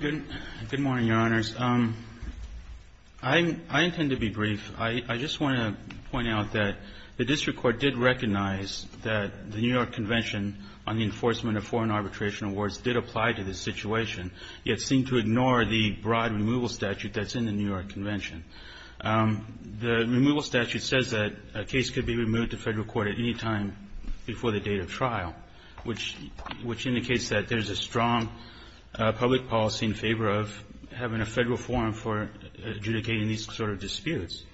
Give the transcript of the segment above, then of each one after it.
Good morning, Your Honors. I intend to be brief. I just want to point out that the District Court did recognize that the New York Convention on the Enforcement of Foreign Arbitration Awards did apply to this situation, yet seemed to ignore the broad removal statute that's in the New York Convention. The removal statute says that a case could be removed to federal court at any time before the date of trial, which indicates that there's a strong public policy in favor of having a federal forum for adjudicating these sort of disputes.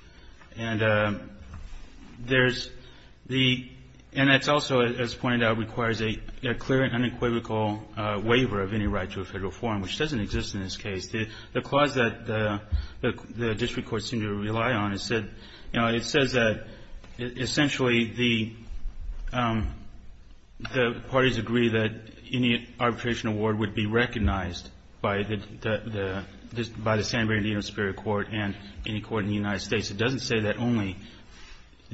And there's the — and that's also, as pointed out, requires a clear and unequivocal waiver of any right to a federal forum, which doesn't exist in this case. The clause that the District Court seemed to rely on, it said — you know, it says that, essentially, the parties agree that any arbitration award would be recognized by the San Bernardino Superior Court and any court in the United States. It doesn't say that only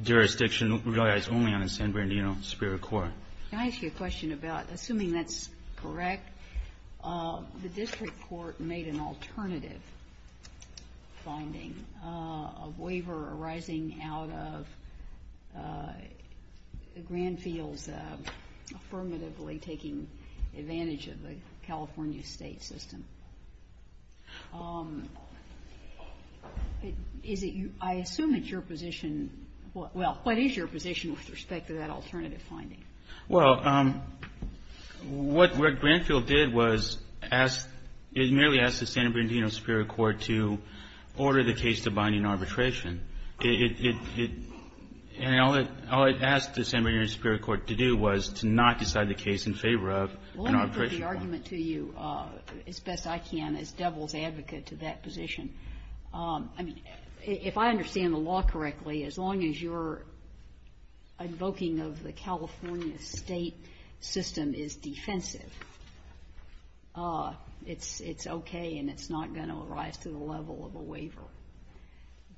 jurisdiction relies only on the San Bernardino Superior Court. Can I ask you a question about, assuming that's correct, the District Court made an alternative finding, a waiver arising out of the Grandfields affirmatively taking advantage of the California State system. Is it your — I assume it's your position with respect to that alternative finding. Well, what Grandfield did was ask — it merely asked the San Bernardino Superior Court to order the case to bind in arbitration. It — and all it asked the San Bernardino Superior Court to do was to not decide the case in favor of an arbitration court. Well, let me put the argument to you as best I can as devil's advocate to that position. I mean, if I understand the law correctly, as long as your invoking of the California State system is defensive, it's okay and it's not going to arise to the level of a waiver.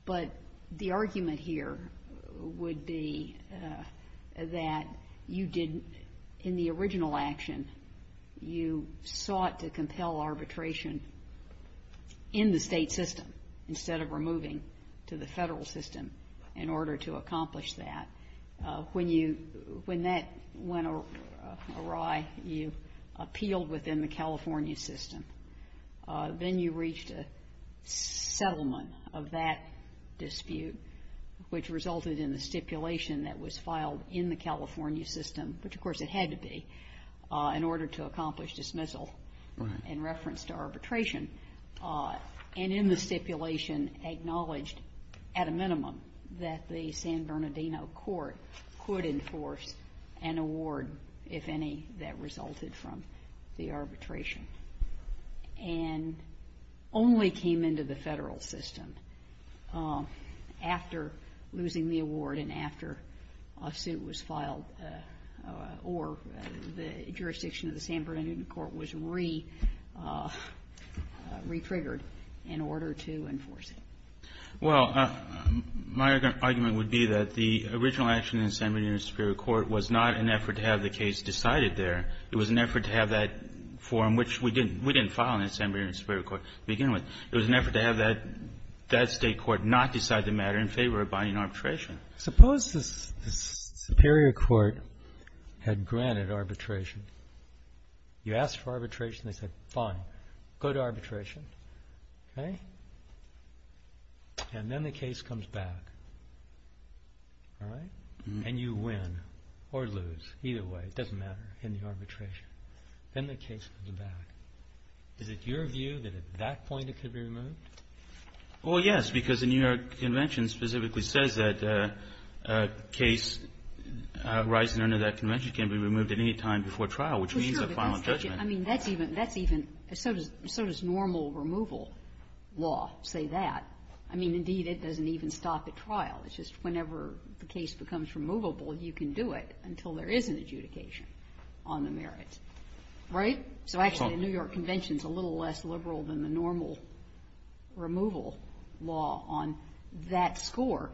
But the argument here would be that you didn't — in the original action, you sought to compel arbitration in the state system instead of removing to the federal system in order to accomplish that. When you — when that went awry, you appealed within the California system. Then you reached a settlement of that dispute, which resulted in the stipulation that was in reference to arbitration, and in the stipulation acknowledged at a minimum that the San Bernardino Court could enforce an award, if any, that resulted from the arbitration, and only came into the federal system after losing the award and after a suit was filed or the jurisdiction of the San Bernardino Court was re-triggered in order to enforce it. Well, my argument would be that the original action in the San Bernardino Superior Court was not an effort to have the case decided there. It was an effort to have that forum, which we didn't — we didn't file in the San Bernardino Superior Court to begin with. It was an effort to have that state court not decide the matter in favor of binding arbitration. Suppose the Superior Court had granted arbitration. You asked for arbitration, they said, fine, go to arbitration, okay? And then the case comes back, all right? And you win or lose, either way, it doesn't matter, in the arbitration. Then the case comes back. Is it your view that at that point it could be removed? Well, yes, because the New York Convention specifically says that a case rising under that convention can be removed at any time before trial, which means a final judgment. I mean, that's even — that's even — so does — so does normal removal law say that? I mean, indeed, it doesn't even stop at trial. It's just whenever the case becomes removable, you can do it until there is an adjudication on the merits, right? So actually, the New York Convention is a little less liberal than the normal removal law on that score,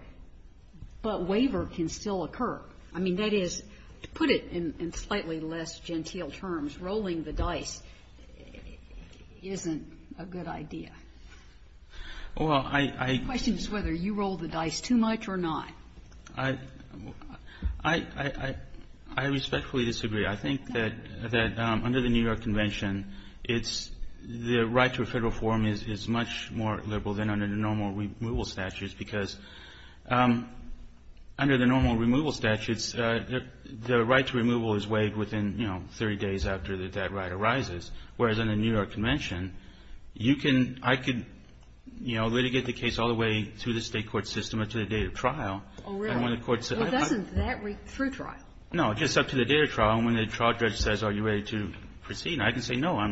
but waiver can still occur. I mean, that is, to put it in slightly less genteel terms, rolling the dice isn't a good idea. Well, I — The question is whether you roll the dice too much or not. I — I respectfully disagree. I think that under the New York Convention, it's — the right to a Federal forum is much more liberal than under the normal removal statutes, because under the normal removal statutes, the right to removal is waived within, you know, 30 days after that right arises, whereas under the New York Convention, you can — I could, you know, I could say, no, I'm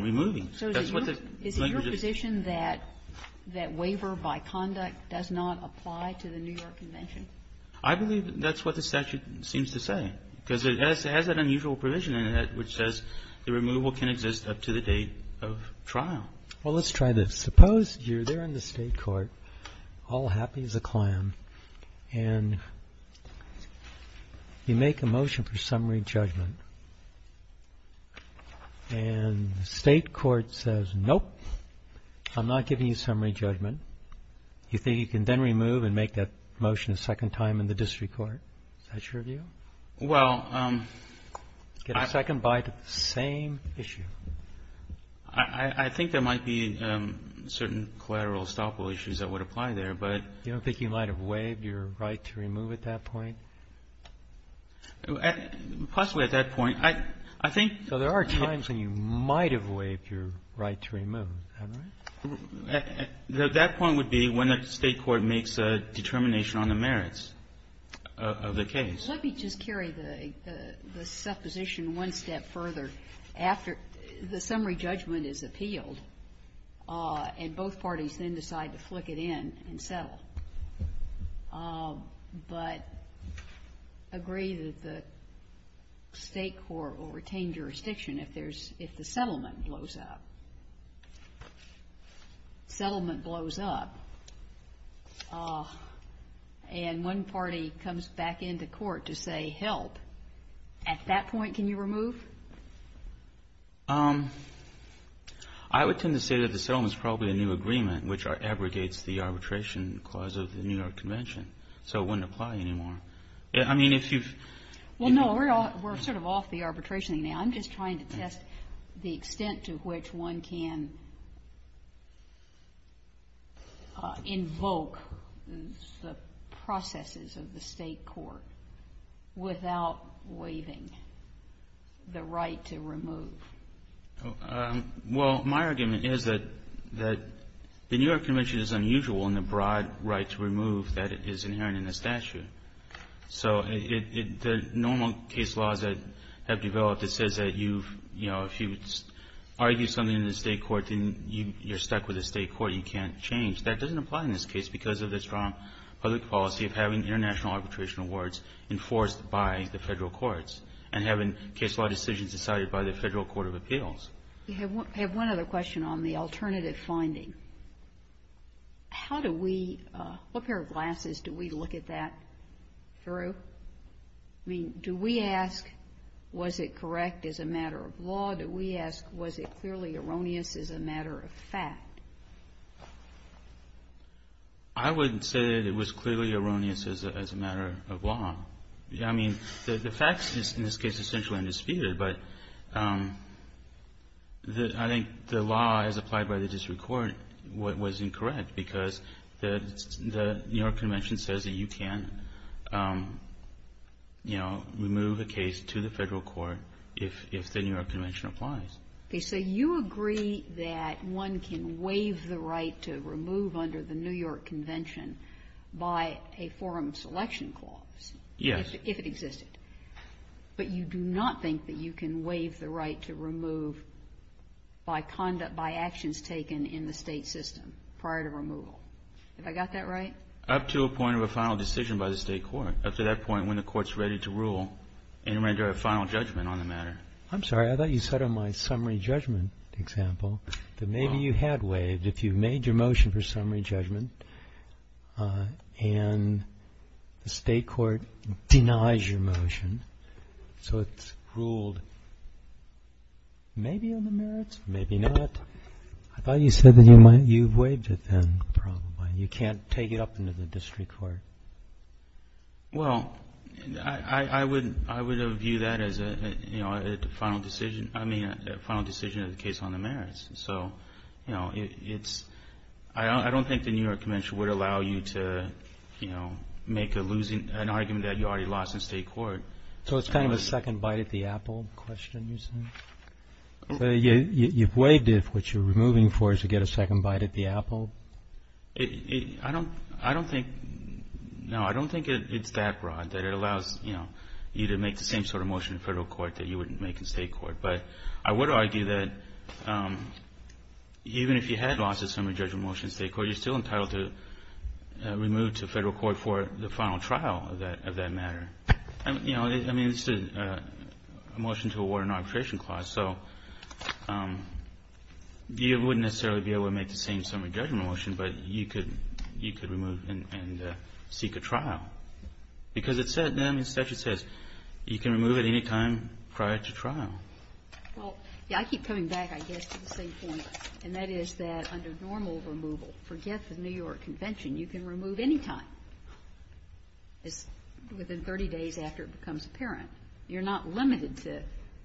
removing. That's what the — Is it your position that — that waiver by conduct does not apply to the New York Convention? I believe that's what the statute seems to say, because it has that unusual provision in it which says the removal can exist up to the date of trial. Well, let's try this. Suppose you're there in the State court. All happy as a clam. And you make a motion for summary judgment. And the State court says, nope, I'm not giving you summary judgment. You think you can then remove and make that motion a second time in the District court. Is that your view? Well — Get a second bite at the same issue. I think there might be certain collateral estoppel issues that would apply there, but — You don't think you might have waived your right to remove at that point? Possibly at that point. I think — So there are times when you might have waived your right to remove, am I right? That point would be when the State court makes a determination on the merits of the case. Let me just carry the supposition one step further. The summary judgment is appealed, and both parties then decide to flick it in and settle, but agree that the State court will retain jurisdiction if the settlement blows up. Settlement blows up, and one party comes back into court to say, help. At that point, can you remove? I would tend to say that the settlement is probably a new agreement, which abrogates the arbitration clause of the New York Convention. So it wouldn't apply anymore. I mean, if you've — Well, no, we're sort of off the arbitration thing now. I'm just trying to test the extent to which one can invoke the processes of the State court without waiving the right to remove. Well, my argument is that the New York Convention is unusual in the broad right to remove that is inherent in the statute. So the normal case laws that have developed, it says that you've, you know, if you argue something in the State court, then you're stuck with the State court. You can't change. That doesn't apply in this case because of the strong public policy of having international arbitration awards enforced by the Federal courts and having case law decisions decided by the Federal court of appeals. I have one other question on the alternative finding. How do we — what pair of glasses do we look at that through? I mean, do we ask, was it correct as a matter of law? Do we ask, was it clearly erroneous as a matter of fact? I wouldn't say that it was clearly erroneous as a matter of law. I mean, the fact is, in this case, essentially undisputed. But I think the law as applied by the district court was incorrect because the New York Convention says that you can, you know, remove a case to the Federal court if the New York Convention applies. Okay. So you agree that one can waive the right to remove under the New York Convention by a forum selection clause. Yes. If it existed. But you do not think that you can waive the right to remove by conduct, by actions taken in the State system prior to removal. Have I got that right? Up to a point of a final decision by the State court. Up to that point when the court's ready to rule and render a final judgment on the matter. I'm sorry. I thought you said on my summary judgment example that maybe you had waived. But if you made your motion for summary judgment and the State court denies your motion, so it's ruled maybe on the merits, maybe not. I thought you said that you waived it then probably. You can't take it up into the district court. Well, I would view that as a final decision. I mean, a final decision of the case on the merits. So, you know, it's – I don't think the New York Convention would allow you to, you know, make a losing – an argument that you already lost in State court. So it's kind of a second bite at the apple question you said? You've waived it. What you're removing for is to get a second bite at the apple? I don't think – no, I don't think it's that broad that it allows, you know, you to make the same sort of motion in federal court that you would make in State court. But I would argue that even if you had lost a summary judgment motion in State court, you're still entitled to remove to federal court for the final trial of that matter. You know, I mean, it's a motion to award an arbitration clause. So you wouldn't necessarily be able to make the same summary judgment motion, but you could remove and seek a trial. Because it said then, the statute says, you can remove at any time prior to trial. Well, yeah, I keep coming back, I guess, to the same thing, and that is that under normal removal, forget the New York Convention, you can remove any time. It's within 30 days after it becomes apparent. You're not limited to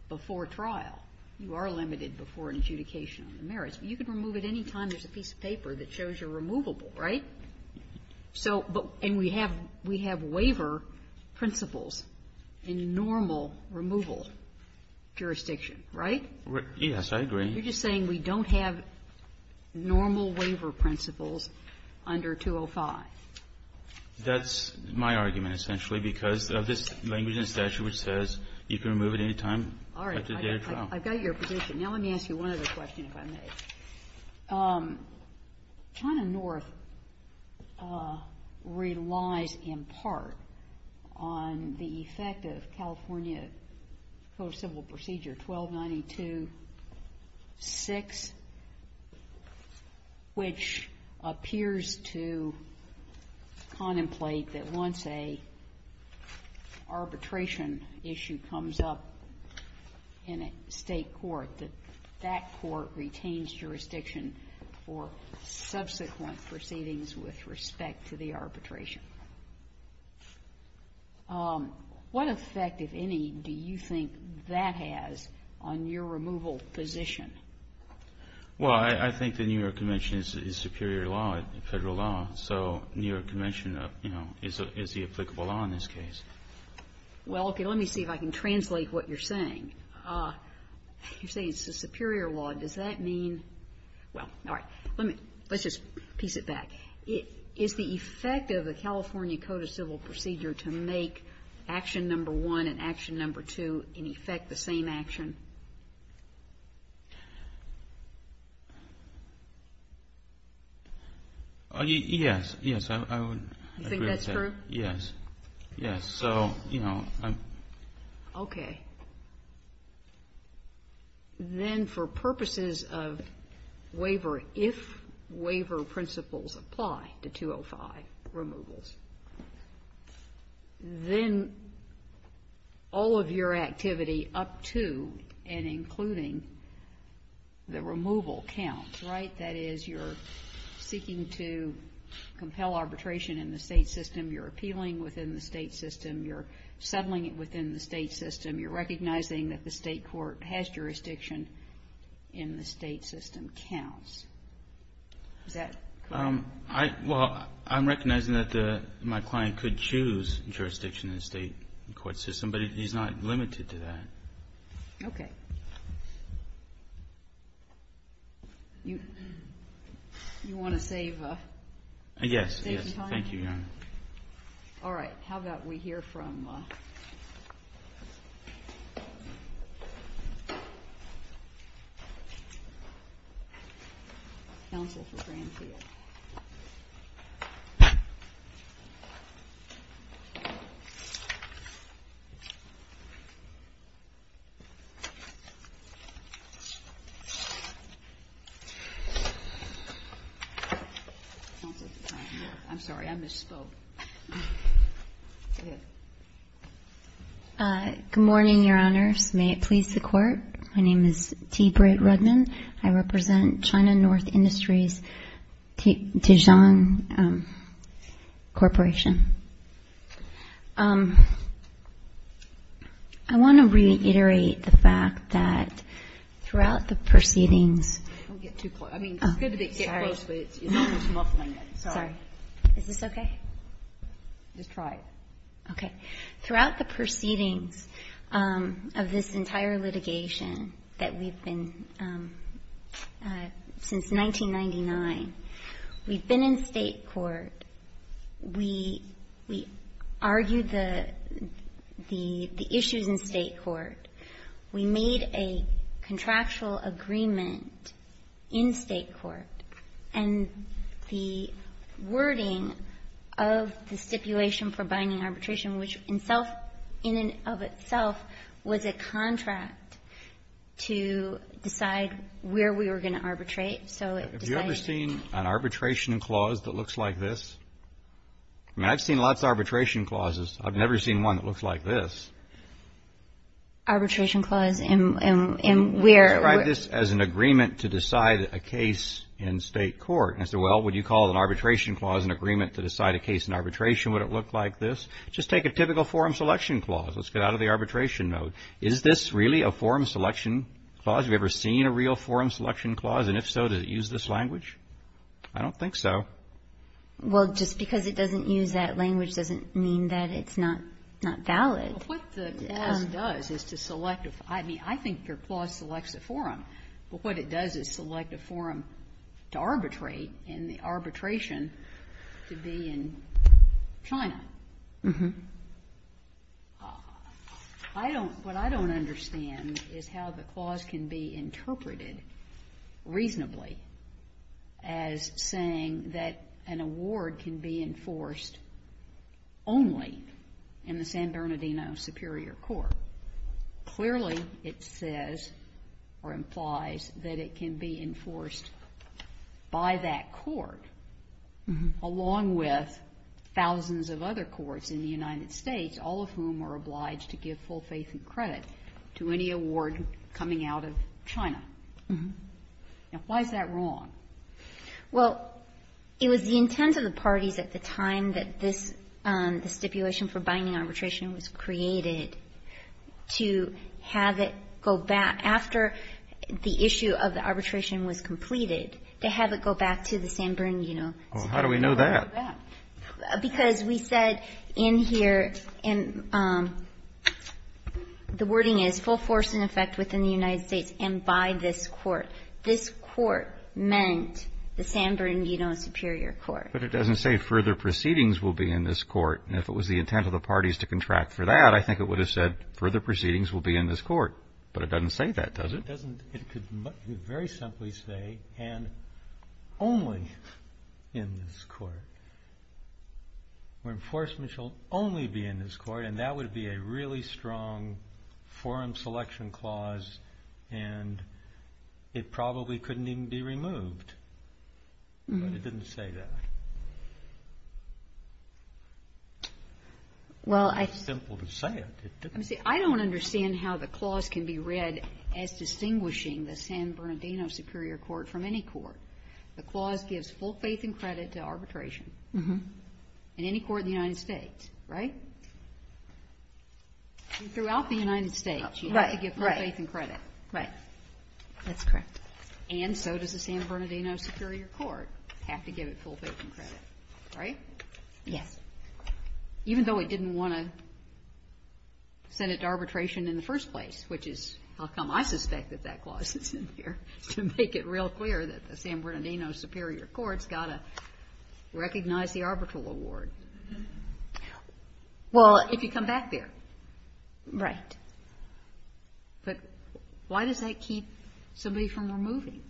before trial. You are limited before adjudication on the merits. You can remove at any time. There's a piece of paper that shows you're removable, right? So but we have waiver principles in normal removal jurisdiction, right? Yes, I agree. You're just saying we don't have normal waiver principles under 205. That's my argument, essentially, because of this language in the statute which says you can remove at any time. All right. I've got your position. Now let me ask you one other question if I may. China North relies in part on the effect of California Code of Civil Procedure 1292-6, which appears to contemplate that once an arbitration issue comes up in a state court, that that court retains jurisdiction for subsequent proceedings with respect to the arbitration. What effect, if any, do you think that has on your removal position? Well, I think the New York Convention is superior law, Federal law. So New York Convention, you know, is the applicable law in this case. Well, okay. Let me see if I can translate what you're saying. You're saying it's a superior law. Does that mean? Well, all right. Let's just piece it back. Is the effect of the California Code of Civil Procedure to make action number one and action number two, in effect, the same action? Yes. Yes, I would agree with that. You think that's true? Yes. Yes. So, you know. Okay. Then for purposes of waiver, if waiver principles apply to 205 removals, then all of your activity up to and including the removal counts, right? That is, you're seeking to compel arbitration in the state system. You're appealing within the state system. You're settling it within the state system. You're recognizing that the state court has jurisdiction in the state system counts. Is that correct? Well, I'm recognizing that my client could choose jurisdiction in the state court system, but he's not limited to that. Okay. Yes. Yes. Thank you, Your Honor. All right. How about we hear from counsel for Granfield? Counsel for Granfield. I'm sorry. I misspoke. Go ahead. Good morning, Your Honors. May it please the Court. My name is T. Britt Rudman. I represent China North Industries, Tijong Corporation. I want to reiterate the fact that throughout the proceedings we've been hearing Is this okay? Just try it. Okay. Throughout the proceedings of this entire litigation that we've been since 1999, we've been in State court. We argued the issues in State court. We made a contractual agreement in State court. And the wording of the stipulation for binding arbitration, which in and of itself was a contract to decide where we were going to arbitrate. Have you ever seen an arbitration clause that looks like this? I mean, I've seen lots of arbitration clauses. I've never seen one that looks like this. Arbitration clause in where? Can I write this as an agreement to decide a case in State court? Well, would you call an arbitration clause an agreement to decide a case in arbitration? Would it look like this? Just take a typical forum selection clause. Let's get out of the arbitration mode. Is this really a forum selection clause? Have you ever seen a real forum selection clause? And if so, does it use this language? I don't think so. Well, just because it doesn't use that language doesn't mean that it's not valid. Well, what the clause does is to select a forum. I mean, I think your clause selects a forum. But what it does is select a forum to arbitrate and the arbitration to be in China. What I don't understand is how the clause can be interpreted reasonably as saying that an award can be enforced only in the San Bernardino Superior Court. Clearly it says or implies that it can be enforced by that court along with thousands of other courts in the United States, all of whom are obliged to give full faith and credit to any award coming out of China. Now, why is that wrong? Well, it was the intent of the parties at the time that this stipulation for binding arbitration was created to have it go back after the issue of the arbitration was completed, to have it go back to the San Bernardino Superior Court. Well, how do we know that? Because we said in here, and the wording is full force and effect within the United States and by this court. This court meant the San Bernardino Superior Court. But it doesn't say further proceedings will be in this court. And if it was the intent of the parties to contract for that, I think it would have said further proceedings will be in this court. But it doesn't say that, does it? It doesn't. It could very simply say and only in this court. Enforcement shall only be in this court. And that would be a really strong forum selection clause. And it probably couldn't even be removed. But it didn't say that. It's simple to say it. Let me see. I don't understand how the clause can be read as distinguishing the San Bernardino Superior Court from any court. The clause gives full faith and credit to arbitration in any court in the United States, right? And throughout the United States, you have to give full faith and credit. Right. That's correct. And so does the San Bernardino Superior Court have to give it full faith and credit, right? Yes. Even though it didn't want to send it to arbitration in the first place, which is how come I suspect that that clause is in here, to make it real clear that the San Bernardino Superior Court's got to recognize the arbitral award. Well. If you come back there. Right. But why does that keep somebody from removing?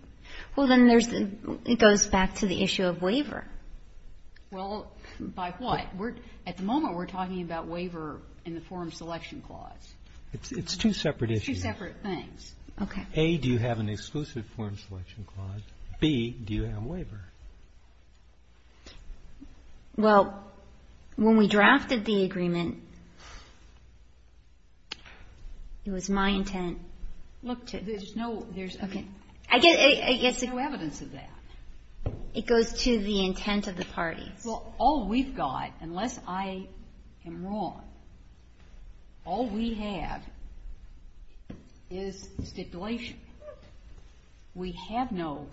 Well, then there's the goes back to the issue of waiver. Well, by what? At the moment, we're talking about waiver in the forum selection clause. It's two separate issues. Two separate things. Okay. A, do you have an exclusive forum selection clause? B, do you have a waiver? Well, when we drafted the agreement, it was my intent. Look, there's no evidence of that. It goes to the intent of the parties. Well, all we've got, unless I am wrong, all we have is stipulation. We have no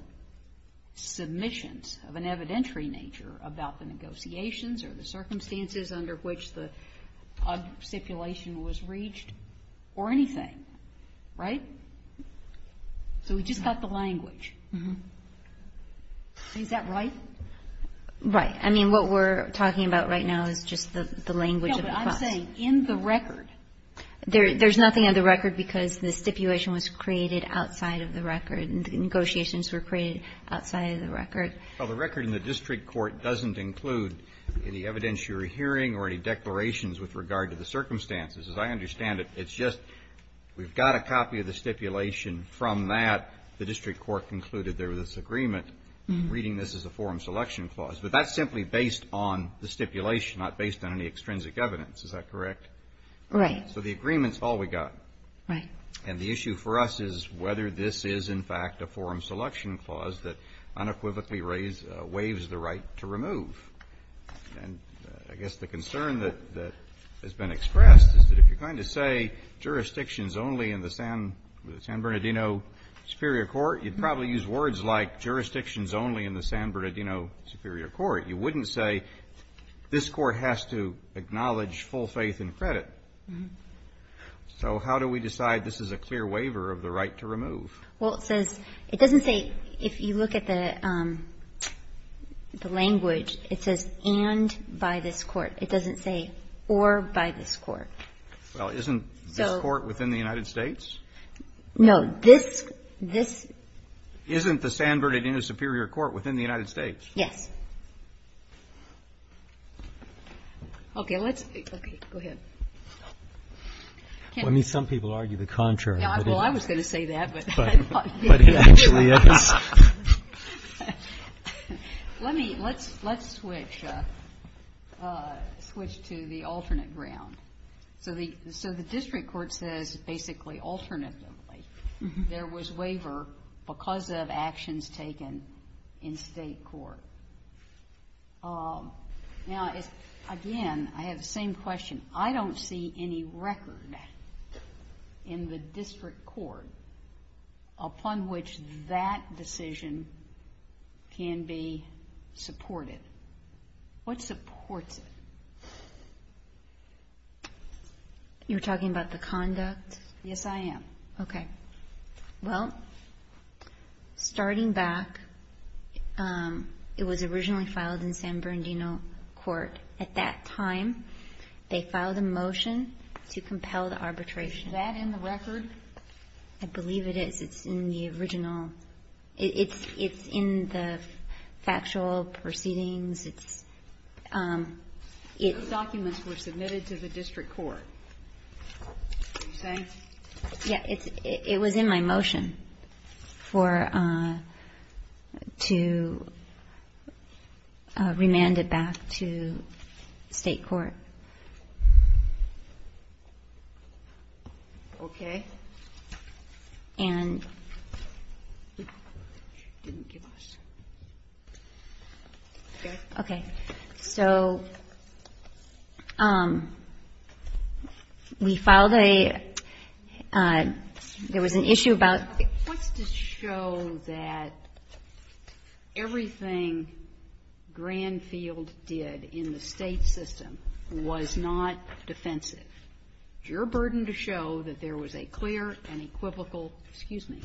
submissions of an evidentiary nature about the negotiations or the circumstances under which the stipulation was reached or anything. Right? So we just got the language. Is that right? Right. I mean, what we're talking about right now is just the language of the clause. No, but I'm saying in the record. There's nothing in the record because the stipulation was created outside of the record and the negotiations were created outside of the record. Well, the record in the district court doesn't include any evidentiary hearing or any declarations with regard to the circumstances. As I understand it, it's just we've got a copy of the stipulation. From that, the district court concluded there was this agreement, reading this as a forum selection clause. But that's simply based on the stipulation, not based on any extrinsic evidence. Is that correct? Right. So the agreement's all we got. Right. And the issue for us is whether this is, in fact, a forum selection clause that unequivocally waives the right to remove. And I guess the concern that has been expressed is that if you're going to say jurisdictions only in the San Bernardino Superior Court, you'd probably use words like jurisdictions only in the San Bernardino Superior Court. You wouldn't say this court has to acknowledge full faith and credit. So how do we decide this is a clear waiver of the right to remove? Well, it doesn't say, if you look at the language, it says and by this court. It doesn't say or by this court. Well, isn't this court within the United States? No. Isn't the San Bernardino Superior Court within the United States? Yes. Okay. Go ahead. Some people argue the contrary. Well, I was going to say that. But it actually is. Let's switch to the alternate ground. So the district court says basically alternately there was waiver because of actions taken in state court. Now, again, I have the same question. I don't see any record in the district court upon which that decision can be supported. What supports it? You're talking about the conduct? Yes, I am. Okay. Well, starting back, it was originally filed in San Bernardino Court. At that time, they filed a motion to compel the arbitration. Is that in the record? I believe it is. It's in the original. It's in the factual proceedings. It's ‑‑ Those documents were submitted to the district court, are you saying? Yeah, it was in my motion for ‑‑ to remand it back to state court. Okay. And ‑‑ Okay. Okay. So we filed a ‑‑ there was an issue about ‑‑ What's to show that everything Granfield did in the state system was not defensive? Your burden to show that there was a clear and equivocal, excuse me,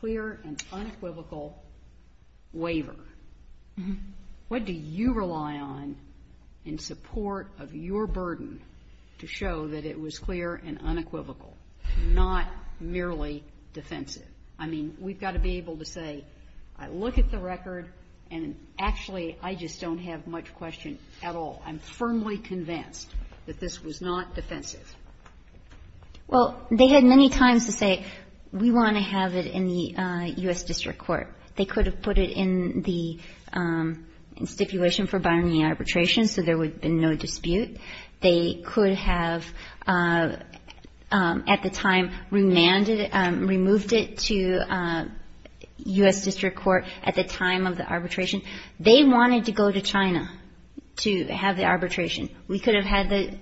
clear and unequivocal waiver. What do you rely on in support of your burden to show that it was clear and unequivocal, not merely defensive? I mean, we've got to be able to say, I look at the record, and actually, I just don't have much question at all. I'm firmly convinced that this was not defensive. Well, they had many times to say, we want to have it in the U.S. district court. They could have put it in the stipulation for binding arbitration so there would have been no dispute. They could have, at the time, remanded it, removed it to U.S. district court at the time of the arbitration. They wanted to go to China to have the arbitration. We could have had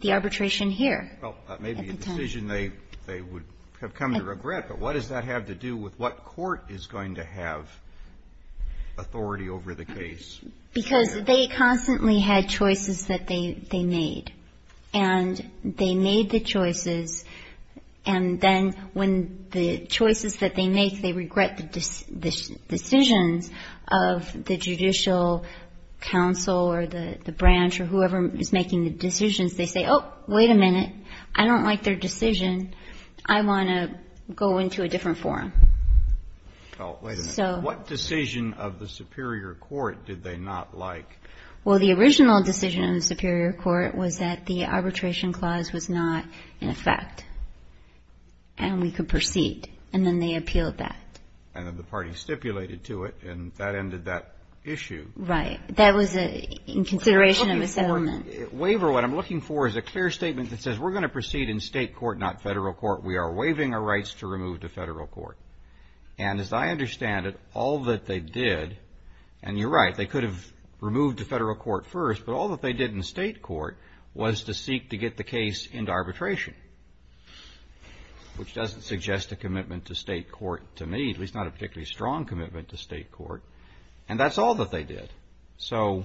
the arbitration here. Well, that may be a decision they would have come to regret, but what does that have to do with what court is going to have authority over the case? Because they constantly had choices that they made. And they made the choices, and then when the choices that they make, they regret the decisions of the judicial counsel or the branch or whoever is making the decisions, they say, oh, wait a minute, I don't like their decision. I want to go into a different forum. Oh, wait a minute. What decision of the superior court did they not like? Well, the original decision of the superior court was that the arbitration clause was not in effect and we could proceed, and then they appealed that. And then the party stipulated to it, and that ended that issue. Right. That was in consideration of a settlement. Waiver, what I'm looking for is a clear statement that says we're going to proceed in state court, not federal court. We are waiving our rights to remove to federal court. And as I understand it, all that they did, and you're right, they could have removed to federal court first, but all that they did in state court was to seek to get the case into arbitration, which doesn't suggest a commitment to state court to me, at least not a particularly strong commitment to state court. And that's all that they did. So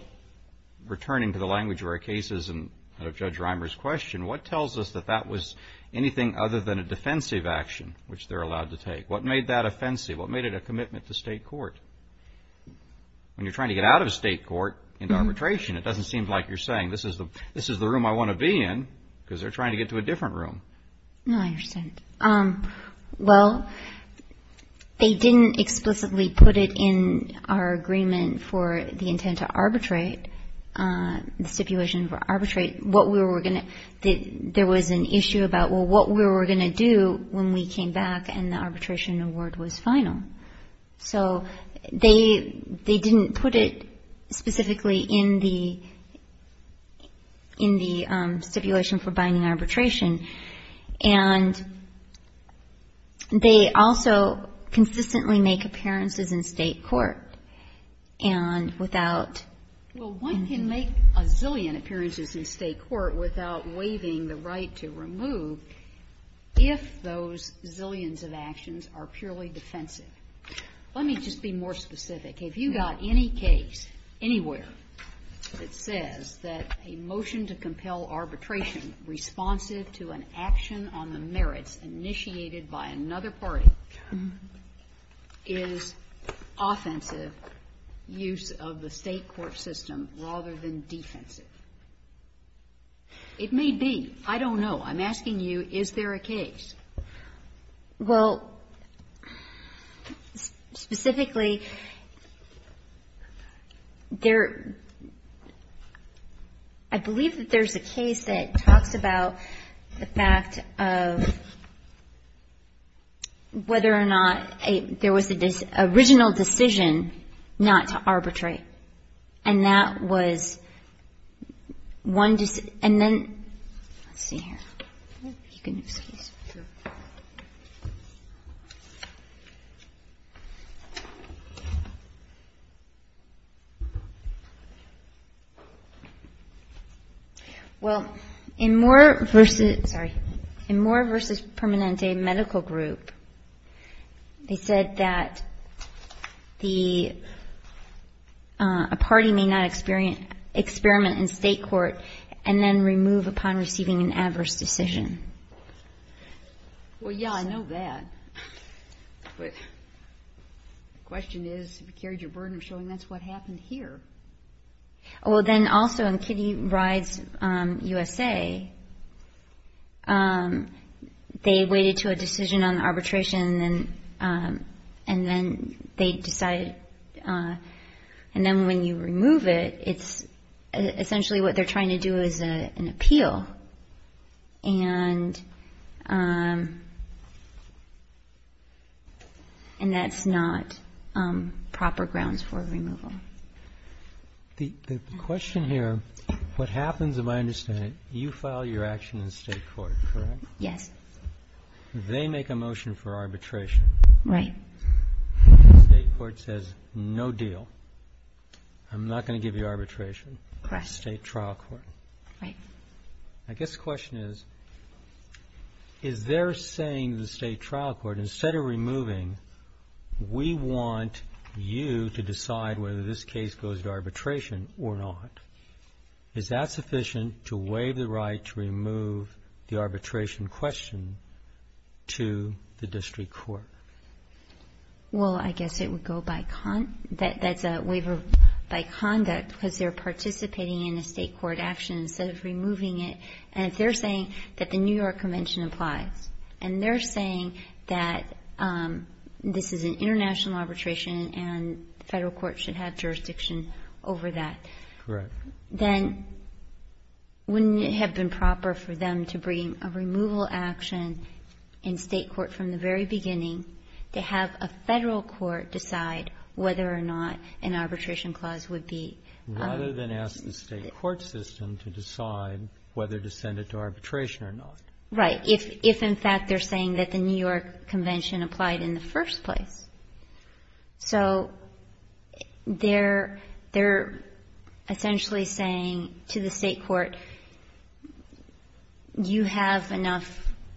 returning to the language of our cases and of Judge Reimer's question, what tells us that that was anything other than a defensive action, which they're allowed to take? What made that offensive? What made it a commitment to state court? When you're trying to get out of a state court into arbitration, it doesn't seem like you're saying this is the room I want to be in, because they're trying to get to a different room. No, I understand. Well, they didn't explicitly put it in our agreement for the intent to arbitrate, the stipulation for arbitrate. There was an issue about, well, what we were going to do when we came back and the arbitration award was final. So they didn't put it specifically in the stipulation for binding arbitration. And they also consistently make appearances in state court. Well, one can make a zillion appearances in state court without waiving the right to remove if those zillions of actions are purely defensive. Let me just be more specific. If you've got any case anywhere that says that a motion to compel arbitration responsive to an action on the merits initiated by another party is offensive use of the state court system rather than defensive, it may be. I don't know. I'm asking you, is there a case? Well, specifically, there – I believe that there's a case that talks about the fact of whether or not there was an original decision not to arbitrate. And that was one – and then – let's see here. If you can excuse me. Sure. Well, in Moore v. Permanente Medical Group, they said that the – a party may not experiment in state court and then remove upon receiving an adverse decision. Well, yeah, I know that. But the question is, if you carried your burden of showing that's what happened here. Well, then also in Kitty Ride's USA, they waited to a decision on arbitration and then they decided – and then when you remove it, it's essentially what they're trying to do is an appeal. And that's not proper grounds for removal. The question here, what happens, if I understand it, you file your action in state court, correct? Yes. They make a motion for arbitration. Right. State court says, no deal. I'm not going to give you arbitration. Correct. State trial court. Right. I guess the question is, is their saying to the state trial court, instead of removing, we want you to decide whether this case goes to arbitration or not. Is that sufficient to waive the right to remove the arbitration question to the district court? Well, I guess it would go by – that's a waiver by conduct, because they're participating in a state court action instead of removing it. And if they're saying that the New York Convention applies, and they're saying that this is an international arbitration and the Federal court should have jurisdiction over that. Correct. Then wouldn't it have been proper for them to bring a removal action in state court from the very beginning to have a Federal court decide whether or not an arbitration clause would be? Rather than ask the state court system to decide whether to send it to arbitration or not. Right. If, in fact, they're saying that the New York Convention applied in the first place. So they're essentially saying to the state court, you have enough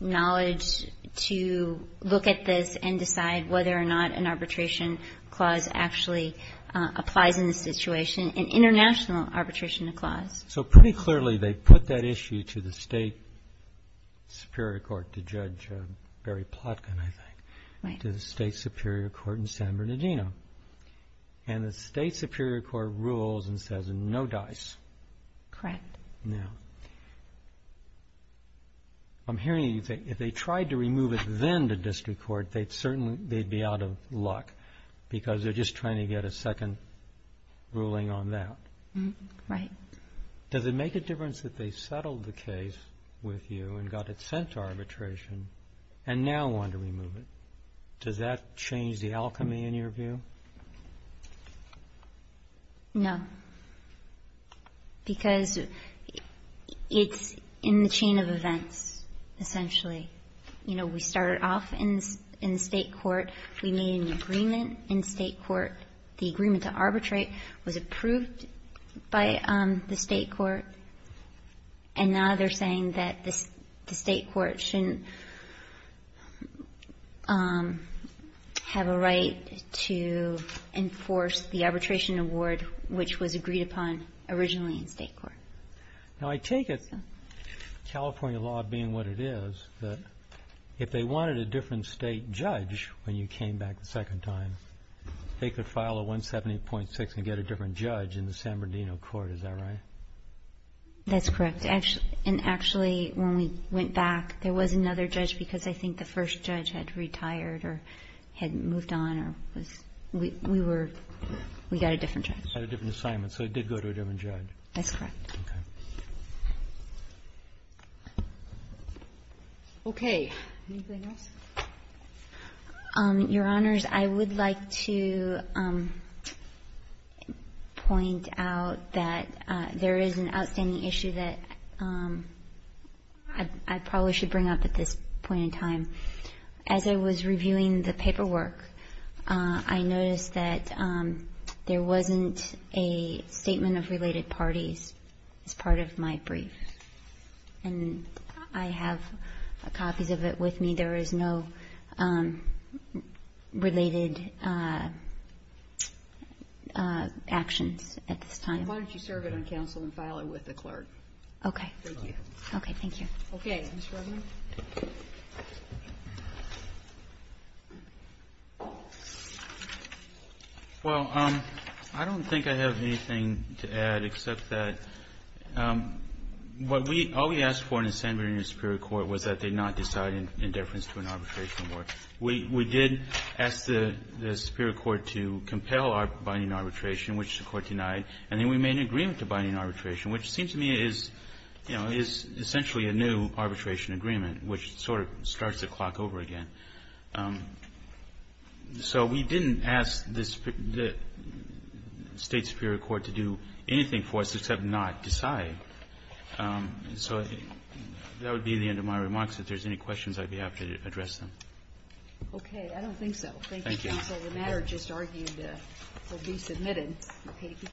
knowledge to look at this and decide whether or not an arbitration clause actually applies in this situation, an international arbitration clause. So pretty clearly they put that issue to the state superior court to judge Barry Plotkin, I think. Right. To the state superior court in San Bernardino. And the state superior court rules and says no dice. Correct. Now, I'm hearing you say if they tried to remove it then to district court, they'd be out of luck because they're just trying to get a second ruling on that. Right. Does it make a difference that they settled the case with you and got it sent to arbitration and now want to remove it? Does that change the alchemy in your view? No. Because it's in the chain of events, essentially. You know, we started off in the state court. We made an agreement in state court. The agreement to arbitrate was approved by the state court. And now they're saying that the state court shouldn't have a right to enforce the arbitration award, which was agreed upon originally in state court. Now, I take it, California law being what it is, that if they wanted a different state judge when you came back the second time, they could file a 170.6 and get a different judge in the San Bernardino court. Is that right? That's correct. And actually, when we went back, there was another judge because I think the first judge had retired or had moved on or was we were we got a different judge. Had a different assignment. So it did go to a different judge. That's correct. Okay. Okay. Anything else? Your Honors, I would like to point out that there is an outstanding issue that I probably should bring up at this point in time. As I was reviewing the paperwork, I noticed that there wasn't a statement of related parties as part of my brief. And I have copies of it with me. But there is no related actions at this time. Why don't you serve it on counsel and file it with the clerk? Okay. Thank you. Okay. Thank you. Okay. Mr. Regan. Well, I don't think I have anything to add except that what we always ask for in the San Bernardino Superior Court was that they not decide in deference to an arbitration award. We did ask the Superior Court to compel our binding arbitration, which the Court denied. And then we made an agreement to binding arbitration, which seems to me is, you know, is essentially a new arbitration agreement, which sort of starts the clock over again. So we didn't ask the State Superior Court to do anything for us except not decide. So that would be the end of my remarks. If there's any questions, I'd be happy to address them. Okay. I don't think so. Thank you, counsel. The matter just argued will be submitted.